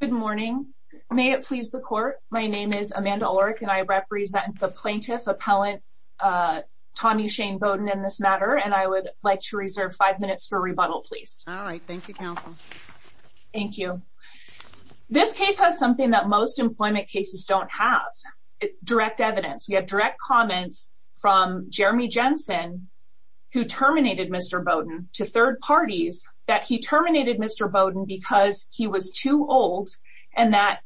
Good morning. May it please the Court, my name is Amanda Ulrich and I represent the Plaintiff Appellant Tommy Shane Boden in this matter and I would like to reserve 5 minutes for rebuttal please. Alright, thank you Counsel. Thank you. This case has something that most employment cases don't have, direct evidence. We have direct comments from Jeremy Jensen who terminated Mr. Boden to third parties that he terminated Mr. Boden because he was too old and that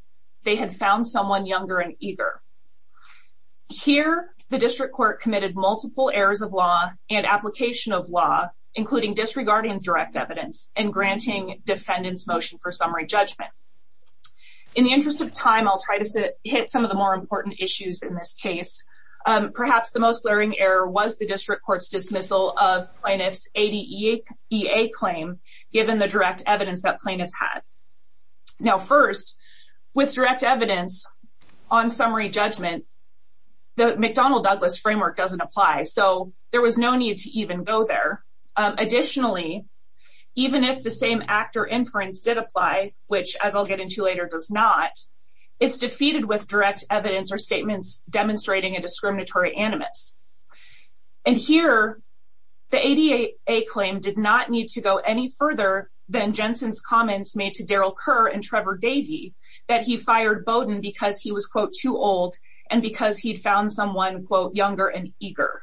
they had found someone younger and eager. Here, the District Court committed multiple errors of law and application of law including disregarding direct evidence and granting defendants motion for summary judgment. In the interest of time, I'll try to hit some of the more important issues in this case. Perhaps the most glaring error was the District Court's dismissal of plaintiff's ADEA claim given the direct evidence that plaintiff had. Now first, with direct evidence on summary judgment, the McDonnell-Douglas framework doesn't apply so there was no need to even go there. Additionally, even if the same act or inference did apply, which as I'll get into later does not, it's defeated with direct evidence or statements demonstrating a discriminatory animus. And here, the ADEA claim did not need to go any further than Jensen's comments made to Daryl Kerr and Trevor Davey that he fired Boden because he was, quote, too old and because he'd found someone, quote, younger and eager.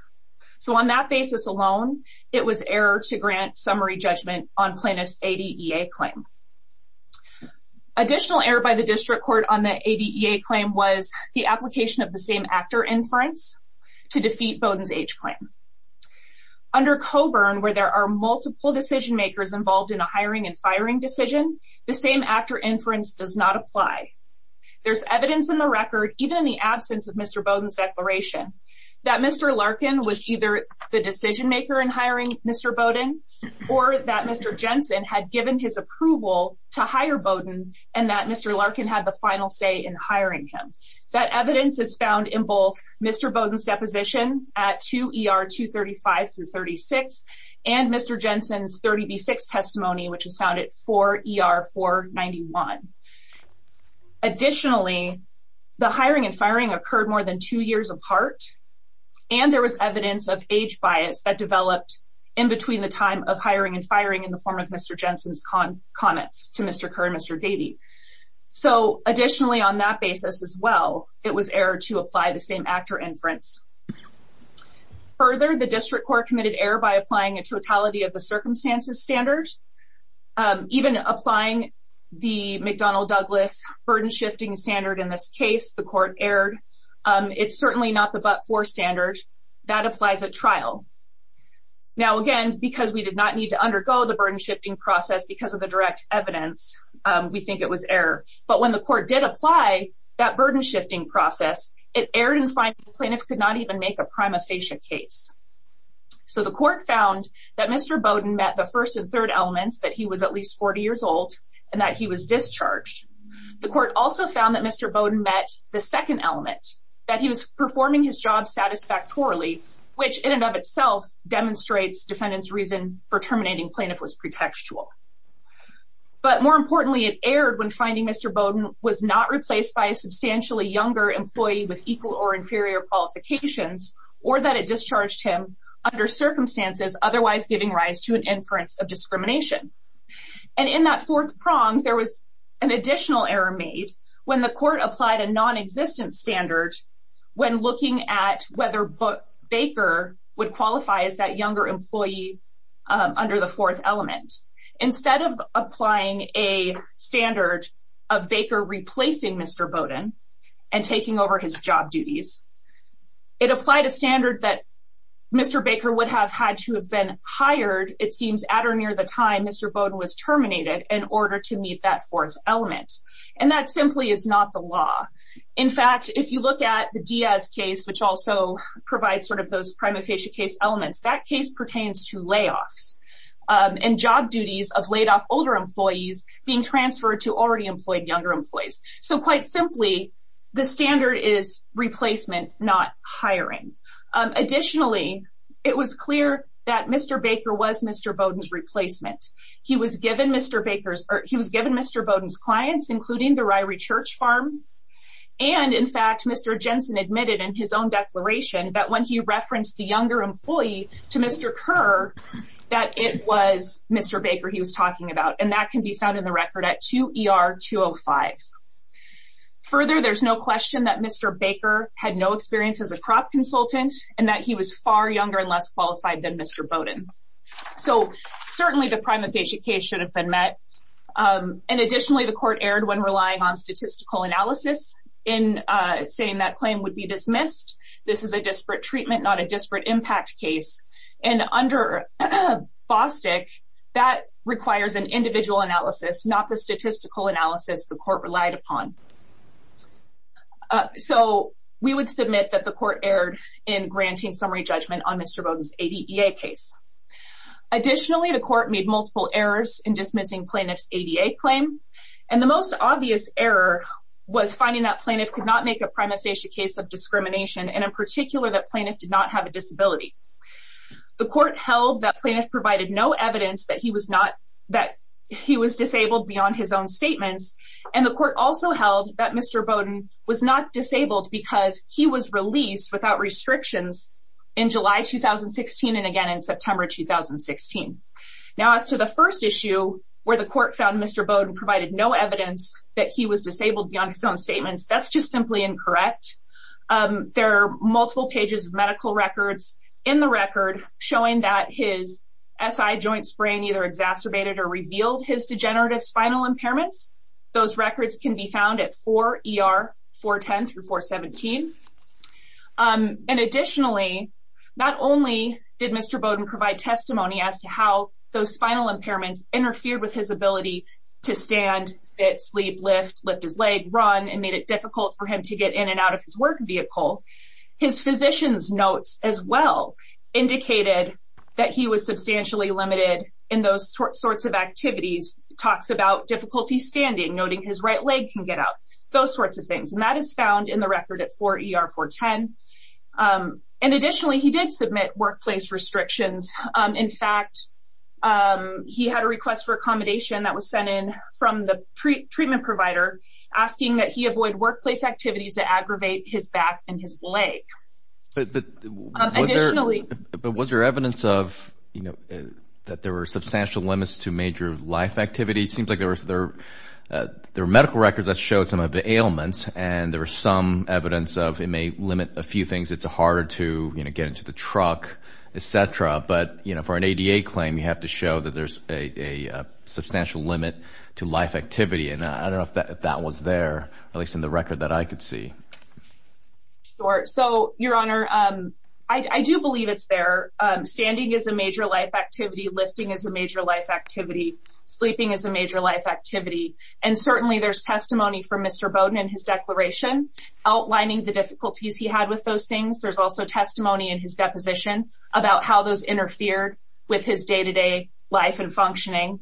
So on that basis alone, it was error to grant summary judgment on plaintiff's ADEA claim. Additional error by the District Court on the ADEA claim was the application of the same actor inference to defeat Boden's age claim. Under Coburn, where there are multiple decision makers involved in a hiring and firing decision, the same actor inference does not apply. There's evidence in the record, even in the absence of Mr. Boden's declaration, that Mr. Larkin was either the decision maker in hiring Mr. Boden or that Mr. Jensen had given his approval to hire Boden and that Mr. Larkin had the final say in hiring him. That evidence is found in both Mr. Boden's deposition at 2 ER 235 through 36 and Mr. Jensen's 30B6 testimony, which is found at 4 ER 491. Additionally, the hiring and firing occurred more than two years apart, and there was evidence of age bias that developed in between the time of hiring and firing in the form of Mr. Jensen's comments to Mr. Kerr and Mr. Davey. So, additionally, on that basis as well, it was error to apply the same actor inference. Further, the District Court committed error by applying a totality of the circumstances standard. Even applying the McDonnell-Douglas burden shifting standard in this case, the court erred. It's certainly not the but-for standard. That applies at trial. Now, again, because we did not need to undergo the burden shifting process because of the direct evidence, we think it was error. But when the court did apply that burden shifting process, it erred in finding the plaintiff could not even make a prima facie case. So, the court found that Mr. Boden met the first and third elements, that he was at least 40 years old and that he was discharged. The court also found that Mr. Boden met the second element, that he was performing his job satisfactorily, which in and of itself demonstrates defendant's reason for terminating plaintiff was pretextual. But more importantly, it erred when finding Mr. Boden was not replaced by a substantially younger employee with equal or inferior qualifications or that it discharged him under circumstances otherwise giving rise to an inference of discrimination. And in that fourth prong, there was an additional error made when the court applied a non-existent standard when looking at whether Baker would qualify as that younger employee under the fourth element. Instead of applying a standard of Baker replacing Mr. Boden and taking over his job duties, it applied a standard that Mr. Baker would have had to have been hired, it seems, at or near the time Mr. Boden was terminated in order to meet that fourth element. And that simply is not the law. In fact, if you look at the Diaz case, which also provides sort of those prima facie case elements, that case pertains to layoffs and job duties of laid off older employees being transferred to already employed younger employees. So quite simply, the standard is replacement, not hiring. Additionally, it was clear that Mr. Baker was Mr. Boden's replacement. He was given Mr. Boden's clients, including the Ryrie Church Farm. And in fact, Mr. Jensen admitted in his own declaration that when he referenced the younger employee to Mr. Kerr, that it was Mr. Baker he was talking about. And that can be found in the record at 2 ER 205. Further, there's no question that Mr. Baker had no experience as a crop consultant and that he was far younger and less qualified than Mr. Boden. So certainly the prima facie case should have been met. And additionally, the court erred when relying on statistical analysis in saying that claim would be dismissed. This is a disparate treatment, not a disparate impact case. And under Bostick, that requires an individual analysis, not the statistical analysis the court relied upon. So we would submit that the court erred in granting summary judgment on Mr. Boden's ADA case. Additionally, the court made multiple errors in dismissing plaintiff's ADA claim. And the most obvious error was finding that plaintiff could not make a prima facie case of discrimination and in particular that plaintiff did not have a disability. The court held that plaintiff provided no evidence that he was not that he was disabled beyond his own statements. And the court also held that Mr. Boden was not disabled because he was released without restrictions in July 2016 and again in September 2016. Now as to the first issue where the court found Mr. Boden provided no evidence that he was disabled beyond his own statements, that's just simply incorrect. There are multiple pages of medical records in the record showing that his SI joint sprain either exacerbated or revealed his degenerative spinal impairments. Those records can be found at 4 ER 410 through 417. And additionally, not only did Mr. Boden provide testimony as to how those spinal impairments interfered with his ability to stand, fit, sleep, lift, lift his leg, run and made it difficult for him to get in and out of his work vehicle. His physician's notes as well indicated that he was substantially limited in those sorts of activities. He talks about difficulty standing, noting his right leg can get out, those sorts of things. And that is found in the record at 4 ER 410. And additionally, he did submit workplace restrictions. In fact, he had a request for accommodation that was sent in from the treatment provider asking that he avoid workplace activities that aggravate his back and his leg. But was there evidence of, you know, that there were substantial limits to major life activities? It seems like there were medical records that showed some of the ailments and there was some evidence of it may limit a few things. It's harder to, you know, get into the truck, etc. But, you know, for an ADA claim, you have to show that there's a substantial limit to life activity. And I don't know if that was there, at least in the record that I could see. So, Your Honor, I do believe it's there. Standing is a major life activity. Lifting is a major life activity. Sleeping is a major life activity. And certainly there's testimony from Mr. Bowden in his declaration outlining the difficulties he had with those things. There's also testimony in his deposition about how those interfered with his day-to-day life and functioning.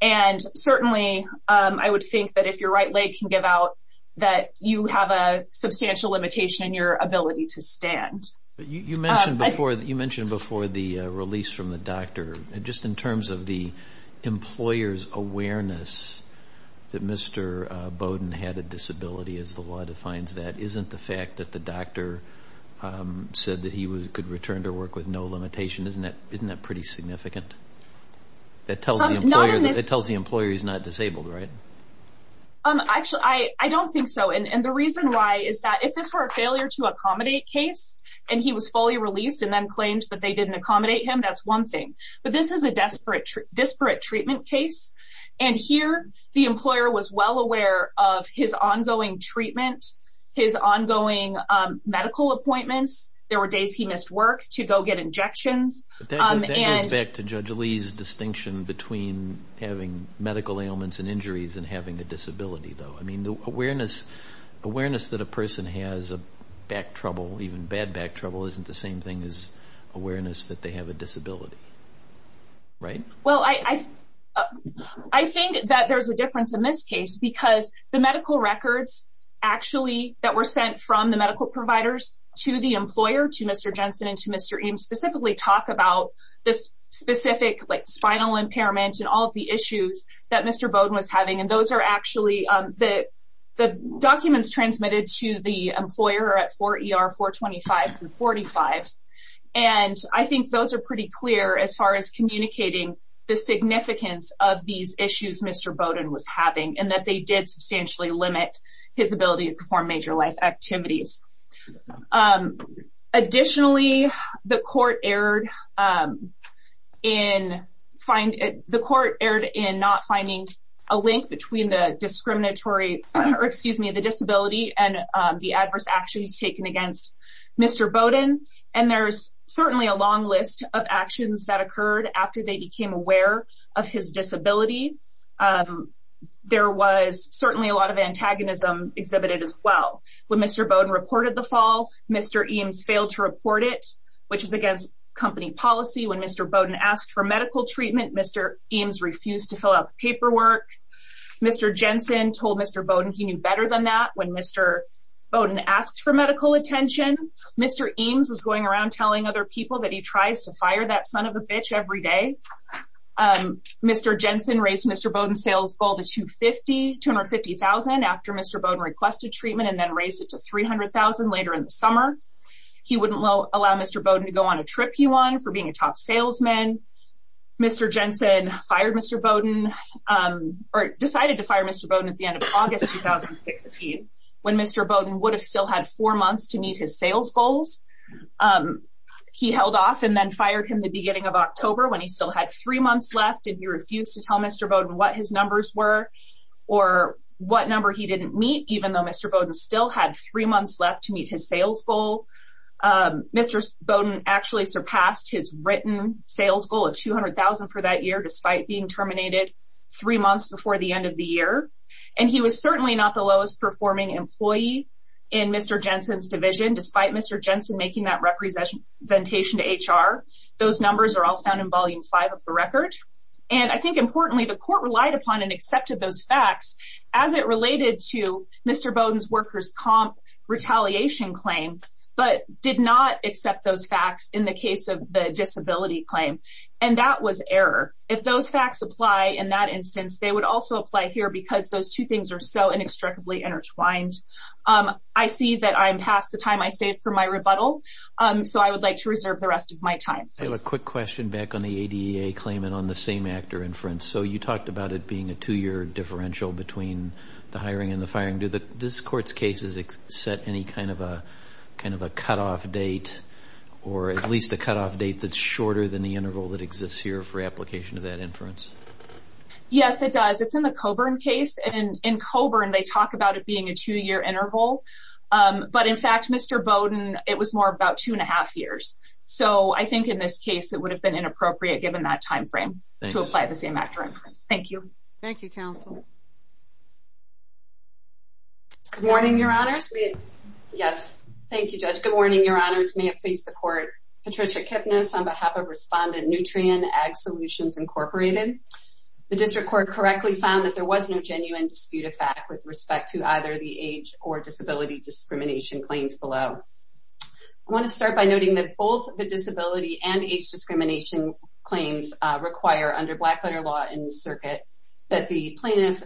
And certainly I would think that if your right leg can give out, that you have a substantial limitation in your ability to stand. You mentioned before the release from the doctor. Just in terms of the employer's awareness that Mr. Bowden had a disability, as the law defines that, isn't the fact that the doctor said that he could return to work with no limitation, isn't that pretty significant? That tells the employer he's not disabled, right? Actually, I don't think so. And the reason why is that if it's for a failure to accommodate case and he was fully released and then claimed that they didn't accommodate him, that's one thing. But this is a disparate treatment case. And here the employer was well aware of his ongoing treatment, his ongoing medical appointments. There were days he missed work to go get injections. That goes back to Judge Lee's distinction between having medical ailments and injuries and having a disability, though. Awareness that a person has back trouble, even bad back trouble, isn't the same thing as awareness that they have a disability, right? Well, I think that there's a difference in this case because the medical records actually that were sent from the medical providers to the employer, to Mr. Jensen and to Mr. Eames, specifically talk about this specific spinal impairment and all of the issues that Mr. Bowden was having. And those are actually the documents transmitted to the employer at 4 ER 425 and 45. And I think those are pretty clear as far as communicating the significance of these issues Mr. Bowden was having and that they did substantially limit his ability to perform major life activities. Additionally, the court erred in not finding a link between the disability and the adverse actions taken against Mr. Bowden. And there's certainly a long list of actions that occurred after they became aware of his disability. There was certainly a lot of antagonism exhibited as well. When Mr. Bowden reported the fall, Mr. Eames failed to report it, which is against company policy. When Mr. Bowden asked for medical treatment, Mr. Eames refused to fill out the paperwork. Mr. Jensen told Mr. Bowden he knew better than that. When Mr. Bowden asked for medical attention, Mr. Eames was going around telling other people that he tries to fire that son of a bitch every day. Mr. Jensen raised Mr. Bowden's sales goal to $250,000 after Mr. Bowden requested treatment and then raised it to $300,000 later in the summer. He wouldn't allow Mr. Bowden to go on a trip he won for being a top salesman. Mr. Jensen decided to fire Mr. Bowden at the end of August 2016 when Mr. Bowden would have still had four months to meet his sales goals. He held off and then fired him at the beginning of October when he still had three months left and he refused to tell Mr. Bowden what his numbers were or what number he didn't meet even though Mr. Bowden still had three months left to meet his sales goal. Mr. Bowden actually surpassed his written sales goal of $200,000 for that year despite being terminated three months before the end of the year. And he was certainly not the lowest performing employee in Mr. Jensen's division despite Mr. Jensen making that representation to HR. Those numbers are all found in Volume 5 of the record. And I think importantly the court relied upon and accepted those facts as it related to Mr. Bowden's workers' comp retaliation claim but did not accept those facts in the case of the disability claim. And that was error. If those facts apply in that instance, they would also apply here because those two things are so inextricably intertwined. I see that I'm past the time I saved for my rebuttal. So I would like to reserve the rest of my time. I have a quick question back on the ADA claim and on the same actor inference. So you talked about it being a two-year differential between the hiring and the firing. Does this court's case set any kind of a cutoff date or at least a cutoff date that's shorter than the interval that exists here for application of that inference? Yes, it does. It's in the Coburn case. And in Coburn, they talk about it being a two-year interval. But in fact, Mr. Bowden, it was more about two and a half years. So I think in this case, it would have been inappropriate given that time frame to apply the same actor inference. Thank you. Thank you, counsel. Good morning, Your Honors. Yes. Thank you, Judge. Good morning, Your Honors. May it please the court. Patricia Kipnis on behalf of Respondent Nutrien, Ag Solutions, Incorporated. The district court correctly found that there was no genuine dispute of fact with respect to either the age or disability discrimination claims below. I want to start by noting that both the disability and age discrimination claims require under Blackletter law in the circuit that the plaintiff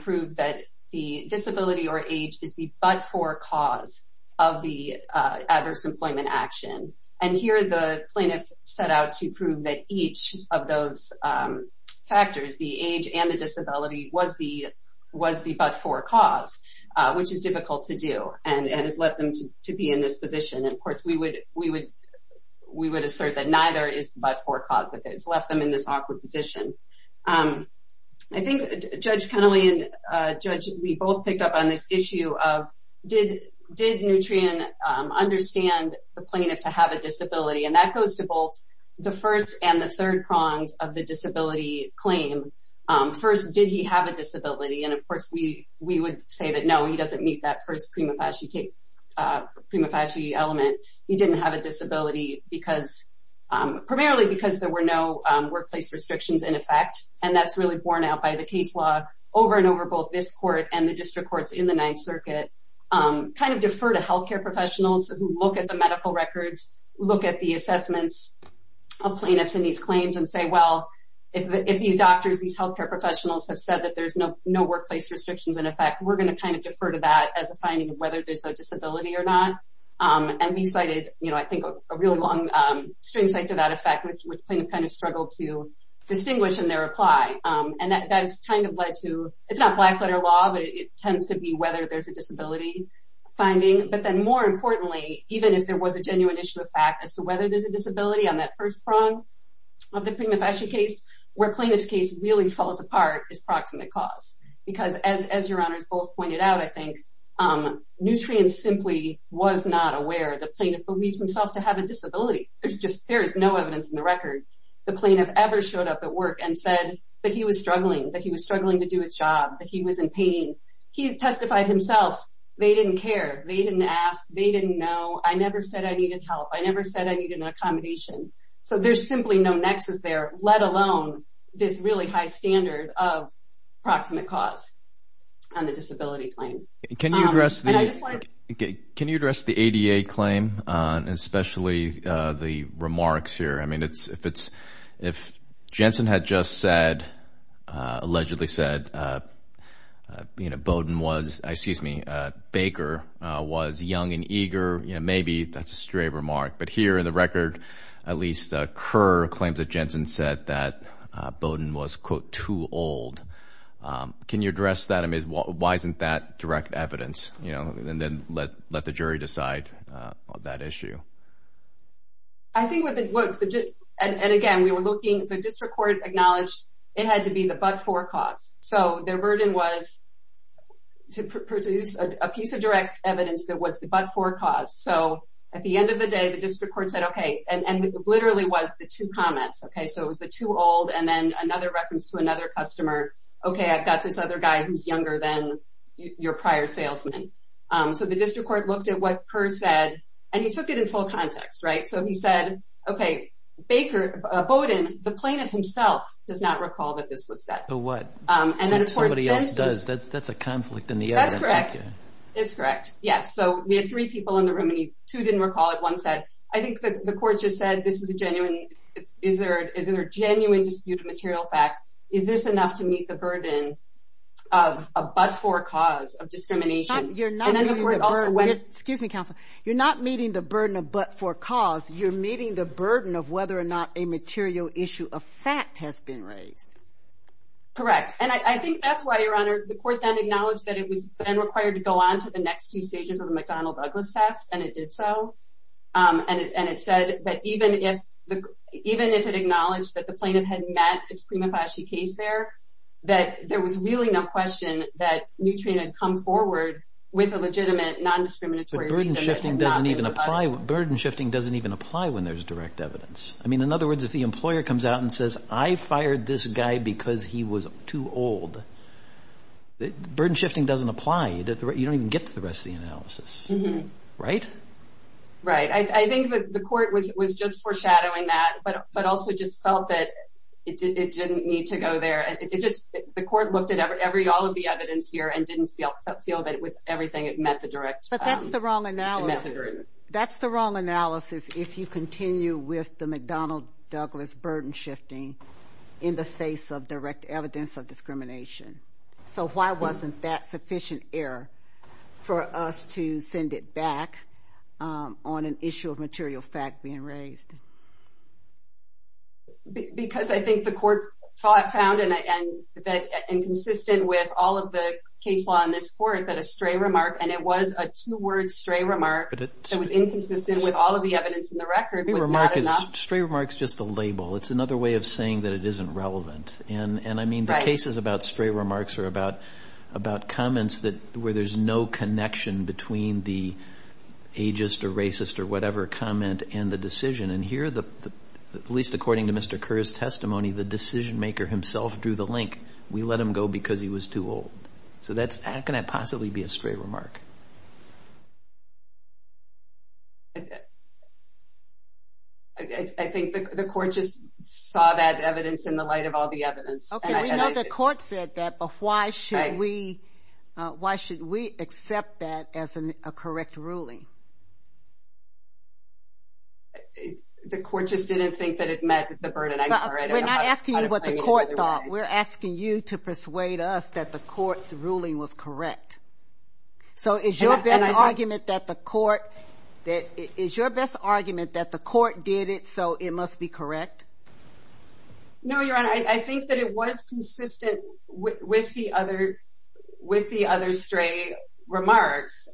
prove that the disability or age is the but-for cause of the adverse employment action. And here, the plaintiff set out to prove that each of those factors, the age and the disability, was the but-for cause, which is difficult to do and has led them to be in this position. And, of course, we would assert that neither is the but-for cause that has left them in this awkward position. I think Judge Kennelly and Judge Lee both picked up on this issue of did Nutrien understand the plaintiff to have a disability? And that goes to both the first and the third prongs of the disability claim. First, did he have a disability? And, of course, we would say that, no, he doesn't meet that first prima facie element. He didn't have a disability primarily because there were no workplace restrictions in effect. And that's really borne out by the case law over and over both this court and the district courts in the Ninth Circuit. Kind of defer to healthcare professionals who look at the medical records, look at the assessments of plaintiffs in these claims and say, well, if these doctors, these healthcare professionals have said that there's no workplace restrictions in effect, we're going to kind of defer to that as a finding of whether there's a disability or not. And we cited, I think, a real long string cite to that effect, which plaintiff kind of struggled to distinguish in their reply. And that has kind of led to, it's not black letter law, but it tends to be whether there's a disability finding. But then, more importantly, even if there was a genuine issue of fact as to whether there's a disability on that first prong of the prima facie case, where plaintiff's case really falls apart is proximate cause. Because as your honors both pointed out, I think, Nutrien simply was not aware the plaintiff believes himself to have a disability. There is no evidence in the record the plaintiff ever showed up at work and said that he was struggling, that he was struggling to do his job, that he was in pain. He testified himself. They didn't care. They didn't ask. They didn't know. I never said I needed help. I never said I needed an accommodation. So there's simply no nexus there, let alone this really high standard of proximate cause on the disability claim. Can you address the ADA claim, especially the remarks here? I mean, if Jensen had just said, allegedly said, you know, Bowdoin was, excuse me, Baker was young and eager, you know, maybe that's a stray remark. But here in the record, at least Kerr claims that Jensen said that Bowdoin was, quote, too old. Can you address that? I mean, why isn't that direct evidence? You know, and then let the jury decide on that issue. I think what the, and again, we were looking, the district court acknowledged it had to be the but-for cause. So their burden was to produce a piece of direct evidence that was the but-for cause. So at the end of the day, the district court said, okay, and it literally was the two comments. Okay, so it was the too old, and then another reference to another customer. Okay, I've got this other guy who's younger than your prior salesman. So the district court looked at what Kerr said, and he took it in full context, right? So he said, okay, Baker, Bowdoin, the plaintiff himself does not recall that this was said. So what? And then, of course, Jensen. Somebody else does. That's a conflict in the evidence. That's correct. It's correct, yes. So we had three people in the room, and two didn't recall it. One said, I think the court just said this is a genuine, is there a genuine dispute of material fact? Is this enough to meet the burden of a but-for cause of discrimination? You're not meeting the burden. Excuse me, counsel. You're not meeting the burden of but-for cause. You're meeting the burden of whether or not a material issue of fact has been raised. Correct. And I think that's why, Your Honor, the court then acknowledged that it was then required to go on to the next two stages of the McDonnell-Douglas test, and it did so. And it said that even if it acknowledged that the plaintiff had met its prima facie case there, that there was really no question that Nutrien had come forward with a legitimate, non-discriminatory reason. But burden shifting doesn't even apply when there's direct evidence. I mean, in other words, if the employer comes out and says, I fired this guy because he was too old, burden shifting doesn't apply. You don't even get to the rest of the analysis. Right? Right. I think that the court was just foreshadowing that, but also just felt that it didn't need to go there. The court looked at all of the evidence here and didn't feel that with everything it met the direct message. But that's the wrong analysis. That's the wrong analysis if you continue with the McDonnell-Douglas burden shifting in the face of direct evidence of discrimination. So why wasn't that sufficient error for us to send it back on an issue of material fact being raised? Because I think the court found that inconsistent with all of the case law in this court that a stray remark, and it was a two-word stray remark that was inconsistent with all of the evidence in the record, was not enough. A stray remark is just a label. It's another way of saying that it isn't relevant. And I mean the cases about stray remarks are about comments where there's no connection between the ageist or racist or whatever comment and the decision. And here, at least according to Mr. Kerr's testimony, the decision maker himself drew the link. We let him go because he was too old. So how can that possibly be a stray remark? I think the court just saw that evidence in the light of all the evidence. Okay. We know the court said that, but why should we accept that as a correct ruling? The court just didn't think that it met the burden. I'm sorry. We're not asking you what the court thought. We're asking you to persuade us that the court's ruling was correct. So is your best argument that the court did it, so it must be correct? No, Your Honor. I think that it was consistent with the other stray remarks.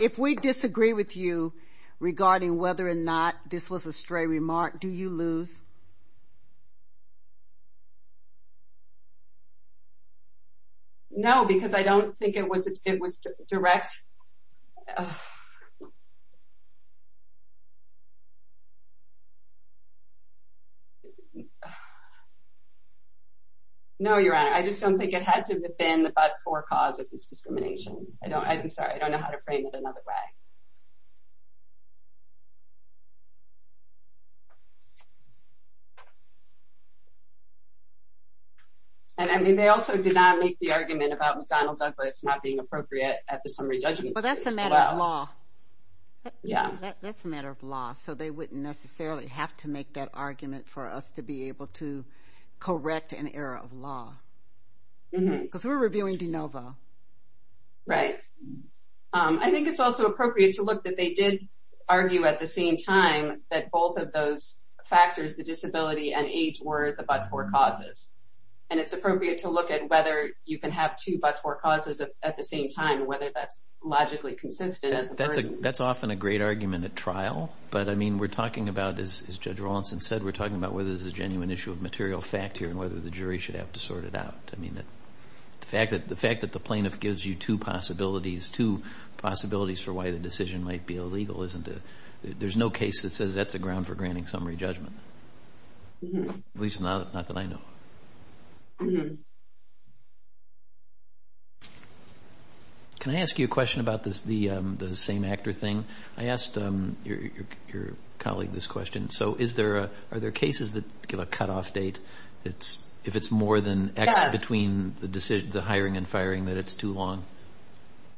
If we disagree with you regarding whether or not this was a stray remark, do you lose? No, because I don't think it was direct. No, Your Honor. I just don't think it had to have been about four causes of discrimination. I'm sorry. I don't know how to frame it another way. And, I mean, they also did not make the argument about McDonnell Douglas not being appropriate at the summary judgment. Well, that's a matter of law. Yeah. That's a matter of law. So they wouldn't necessarily have to make that argument for us to be able to correct an error of law. Because we're reviewing de novo. Right. I think it's also appropriate to look that they did argue at the same time that both of those factors, the disability and age, were the but-for causes. And it's appropriate to look at whether you can have two but-for causes at the same time, whether that's logically consistent. That's often a great argument at trial. But, I mean, we're talking about, as Judge Rawlinson said, we're talking about whether this is a genuine issue of material fact here and whether the jury should have to sort it out. I mean, the fact that the plaintiff gives you two possibilities, two possibilities for why the decision might be illegal, isn't it? There's no case that says that's a ground for granting summary judgment. At least not that I know of. Can I ask you a question about the same-actor thing? I asked your colleague this question. Are there cases that give a cutoff date if it's more than X between the hiring and firing that it's too long?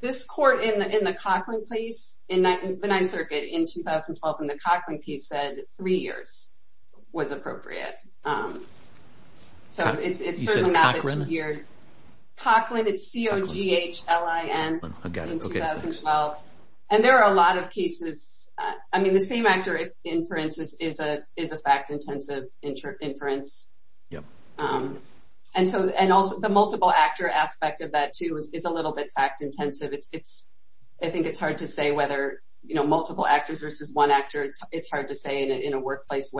This court in the Coughlin case, the Ninth Circuit in 2012, in the Coughlin case, said three years was appropriate. You said Cochran? Cochran, it's C-O-G-H-L-I-N in 2012. And there are a lot of cases. I mean, the same-actor inference is a fact-intensive inference. And also, the multiple-actor aspect of that, too, is a little bit fact-intensive. I think it's hard to say whether multiple actors versus one actor. It's hard to say in a workplace.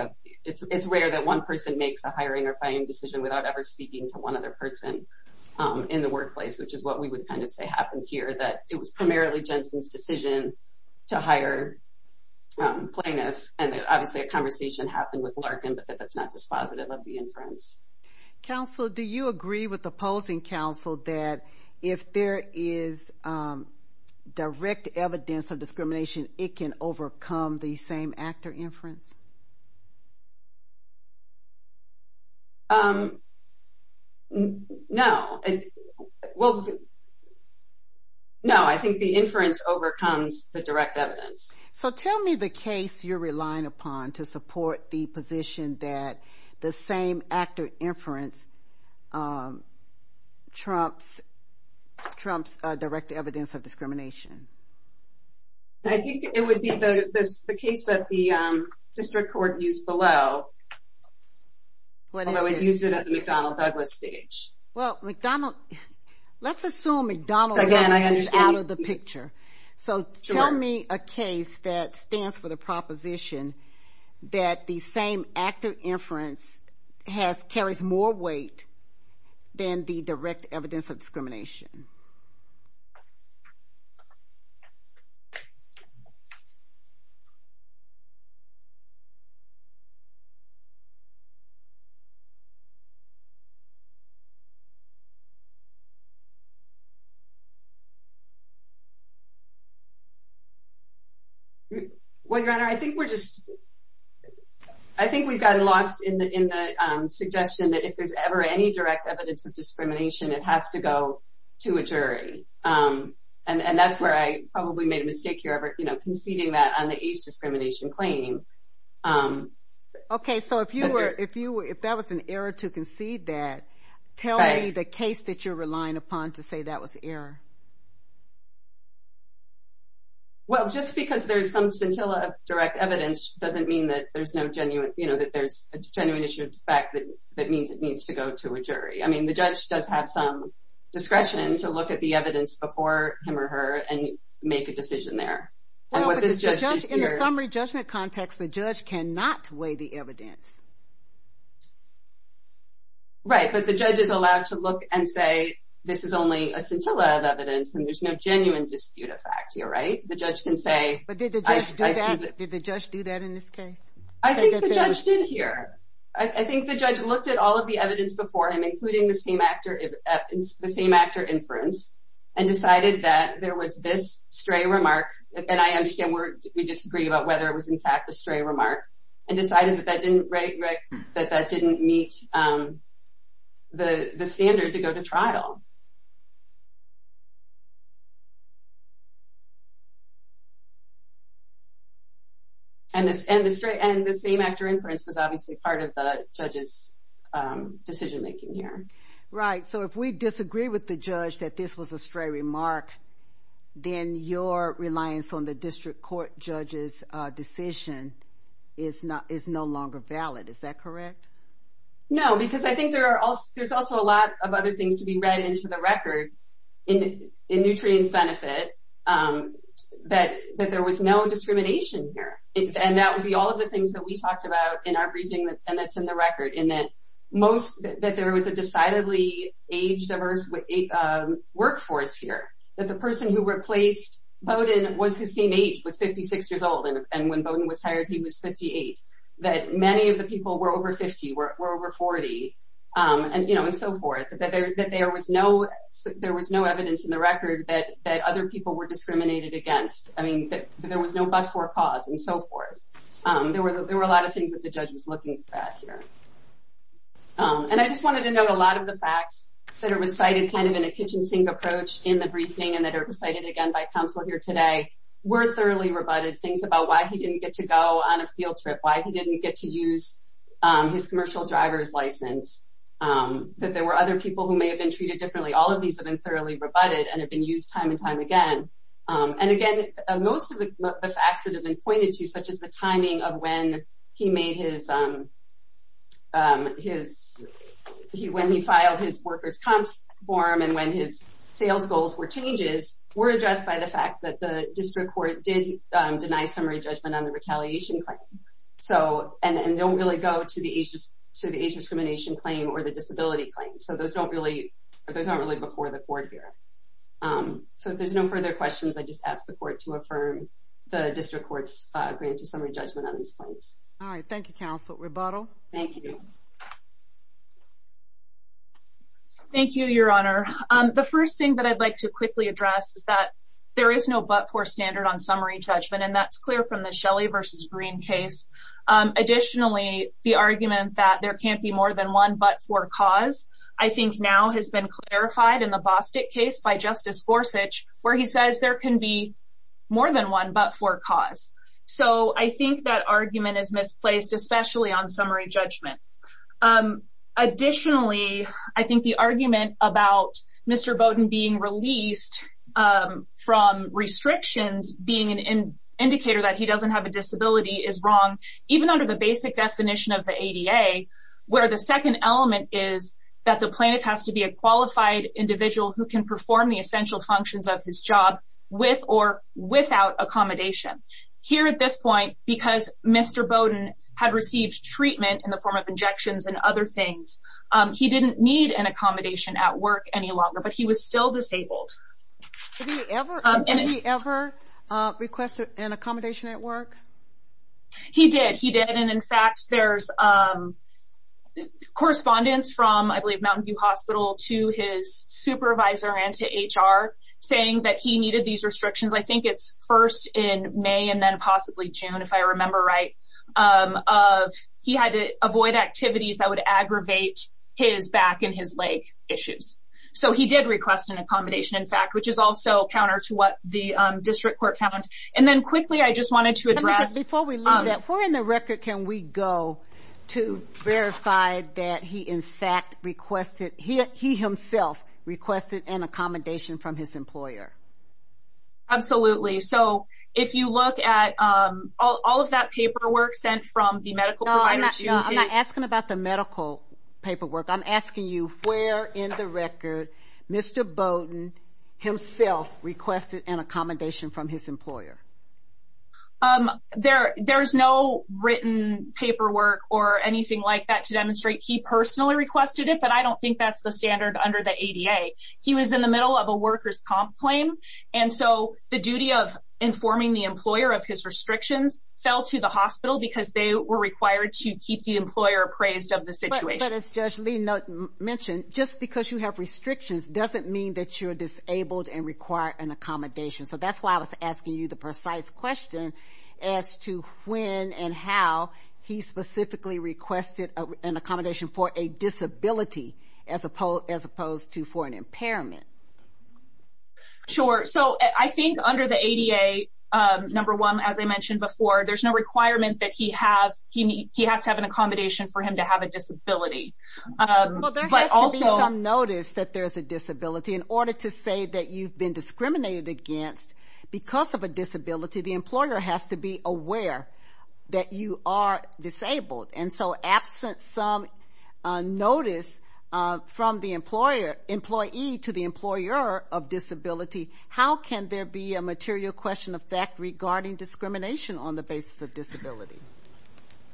It's rare that one person makes a hiring or firing decision without ever speaking to one other person in the workplace, which is what we would kind of say happened here, that it was primarily Jensen's decision to hire plaintiffs. And, obviously, a conversation happened with Larkin, but that's not dispositive of the inference. Counsel, do you agree with opposing counsel that if there is direct evidence of discrimination, it can overcome the same-actor inference? No. Well, no, I think the inference overcomes the direct evidence. So tell me the case you're relying upon to support the position that the same-actor inference trumps direct evidence of discrimination. I think it would be the case that the district court used below, although it used it at the McDonnell-Douglas stage. Well, McDonnell, let's assume McDonnell-Douglas is out of the picture. So tell me a case that stands for the proposition that the same-actor inference carries more weight than the direct evidence of discrimination. Well, Your Honor, I think we've gotten lost in the suggestion that if there's ever any direct evidence of discrimination, it has to go to a jury. And that's where I probably made a mistake here, conceding that on the age discrimination claim. Okay, so if that was an error to concede that, tell me the case that you're relying upon to support the position that you're relying upon to say that was an error. Well, just because there's some scintilla of direct evidence doesn't mean that there's no genuine, you know, that there's a genuine issue of fact that means it needs to go to a jury. I mean, the judge does have some discretion to look at the evidence before him or her and make a decision there. In the summary judgment context, the judge cannot weigh the evidence. Right, but the judge is allowed to look and say, this is only a scintilla of evidence, and there's no genuine dispute of fact here, right? The judge can say – But did the judge do that? Did the judge do that in this case? I think the judge did here. I think the judge looked at all of the evidence before him, including the same-actor inference, and decided that there was this stray remark, and I understand we disagree about whether it was in fact a stray remark, and decided that that didn't meet the standard to go to trial. And the same-actor inference was obviously part of the judge's decision-making here. Right, so if we disagree with the judge that this was a stray remark, then your reliance on the district court judge's decision is no longer valid. Is that correct? No, because I think there's also a lot of other things to be read into the record in Nutrien's benefit, that there was no discrimination here. And that would be all of the things that we talked about in our briefing and that's in the record, that there was a decidedly age-diverse workforce here, that the person who replaced Bowdoin was the same age, was 56 years old, and when Bowdoin was hired he was 58, that many of the people were over 50, were over 40, and so forth, that there was no evidence in the record that other people were discriminated against, that there was no but-for cause, and so forth. There were a lot of things that the judge was looking at here. And I just wanted to note a lot of the facts that are recited kind of in a kitchen sink approach in the briefing and that are recited again by counsel here today were thoroughly rebutted, things about why he didn't get to go on a field trip, why he didn't get to use his commercial driver's license, that there were other people who may have been treated differently. All of these have been thoroughly rebutted and have been used time and time again. And again, most of the facts that have been pointed to, such as the timing of when he filed his worker's comp form and when his sales goals were changes, were addressed by the fact that the district court did deny summary judgment on the retaliation claim and don't really go to the age discrimination claim or the disability claim. So those aren't really before the court here. So if there's no further questions, I just ask the court to affirm the district court's grant to summary judgment on these claims. All right. Thank you, counsel. Rebuttal. Thank you. Thank you, Your Honor. The first thing that I'd like to quickly address is that there is no but-for standard on summary judgment, and that's clear from the Shelley v. Green case. Additionally, the argument that there can't be more than one but-for cause, I think now has been clarified in the Bostic case by Justice Gorsuch, where he says there can be more than one but-for cause. So I think that argument is misplaced, especially on summary judgment. Additionally, I think the argument about Mr. Bowden being released from restrictions, being an indicator that he doesn't have a disability, is wrong, even under the basic definition of the ADA, where the second element is that the plaintiff has to be a qualified individual who can perform the essential functions of his job with or without accommodation. Here at this point, because Mr. Bowden had received treatment in the form of injections and other things, he didn't need an accommodation at work any longer, but he was still disabled. Did he ever request an accommodation at work? He did. He did. And in fact, there's correspondence from, I believe, Mountain View Hospital to his supervisor and to HR saying that he needed these restrictions. I think it's first in May and then possibly June, if I remember right, of he had to avoid activities that would aggravate his back and his leg issues. So he did request an accommodation, in fact, which is also counter to what the district court found. And then quickly, I just wanted to address- Before we leave that, where in the record can we go to verify that he in fact requested, he himself requested an accommodation from his employer? Absolutely. So if you look at all of that paperwork sent from the medical provider- No, I'm not asking about the medical paperwork. I'm asking you where in the record Mr. Bowden himself requested an accommodation from his employer. There's no written paperwork or anything like that to demonstrate he personally requested it, but I don't think that's the standard under the ADA. He was in the middle of a workers' comp claim, and so the duty of informing the employer of his restrictions fell to the hospital because they were required to keep the employer appraised of the situation. Well, as Judge Lee mentioned, just because you have restrictions doesn't mean that you're disabled and require an accommodation. So that's why I was asking you the precise question as to when and how he specifically requested an accommodation for a disability as opposed to for an impairment. Sure. So I think under the ADA, number one, as I mentioned before, there's no requirement that he has to have an accommodation for him to have a disability. Well, there has to be some notice that there's a disability. In order to say that you've been discriminated against because of a disability, the employer has to be aware that you are disabled. And so absent some notice from the employee to the employer of disability, how can there be a material question of fact regarding discrimination on the basis of disability?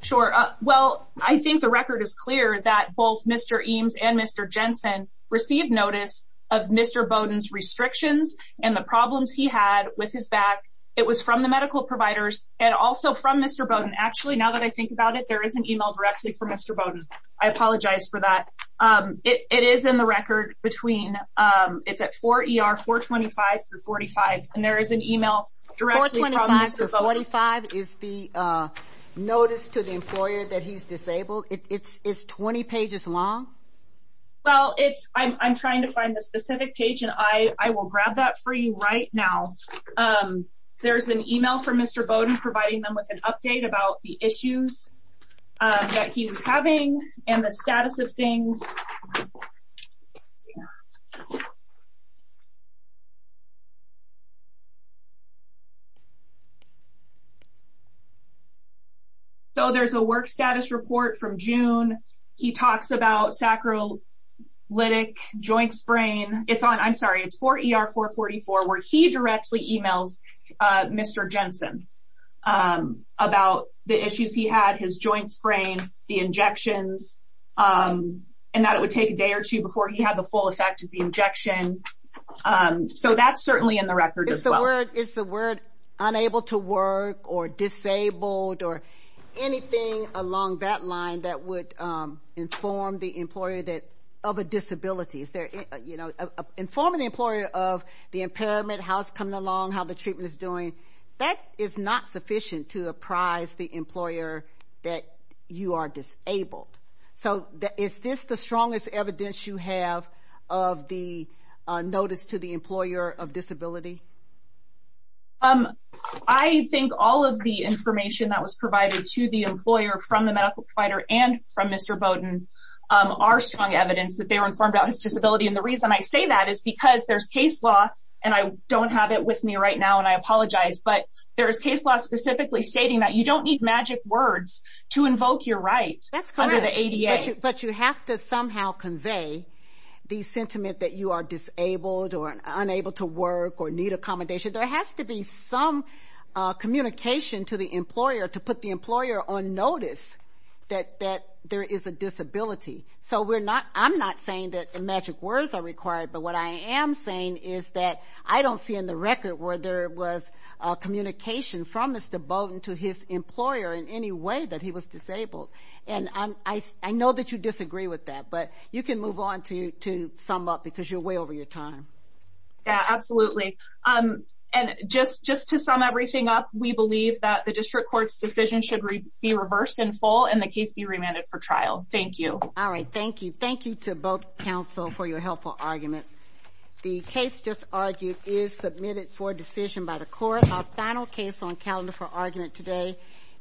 Sure. Well, I think the record is clear that both Mr. Eames and Mr. Jensen received notice of Mr. Bowden's restrictions and the problems he had with his back. It was from the medical providers and also from Mr. Bowden. Actually, now that I think about it, there is an email directly from Mr. Bowden. I apologize for that. It is in the record between 4 ER 425 through 45. And there is an email directly from Mr. Bowden. 425 through 45 is the notice to the employer that he's disabled? It's 20 pages long? Well, I'm trying to find the specific page, and I will grab that for you right now. There's an email from Mr. Bowden providing them with an update about the issues that he was having and the status of things. So there's a work status report from June. He talks about sacral lytic joint sprain. I'm sorry, it's 4 ER 444 where he directly emails Mr. Jensen about the issues he had, his joint sprain, the injections, and that it would take a day or two before he had the full effect of the injection. So that's certainly in the record as well. Is the word unable to work or disabled or anything along that line that would inform the employer of a disability? Informing the employer of the impairment, how it's coming along, how the treatment is doing, that is not sufficient to apprise the employer that you are disabled. So is this the strongest evidence you have of the notice to the employer of disability? I think all of the information that was provided to the employer from the medical provider and from Mr. Bowden are strong evidence that they were informed about his disability. And the reason I say that is because there's case law, and I don't have it with me right now, and I apologize, but there's case law specifically stating that you don't need magic words to invoke your right under the ADA. But you have to somehow convey the sentiment that you are disabled or unable to work or need accommodation. There has to be some communication to the employer to put the employer on notice that there is a disability. So I'm not saying that magic words are required, but what I am saying is that I don't see in the record where there was communication from Mr. Bowden to his employer in any way that he was disabled. And I know that you disagree with that, but you can move on to sum up because you're way over your time. Yeah, absolutely. And just to sum everything up, we believe that the district court's decision should be reversed in full and the case be remanded for trial. Thank you. All right, thank you. Thank you to both counsel for your helpful arguments. The case just argued is submitted for decision by the court. Our final case on calendar for argument today.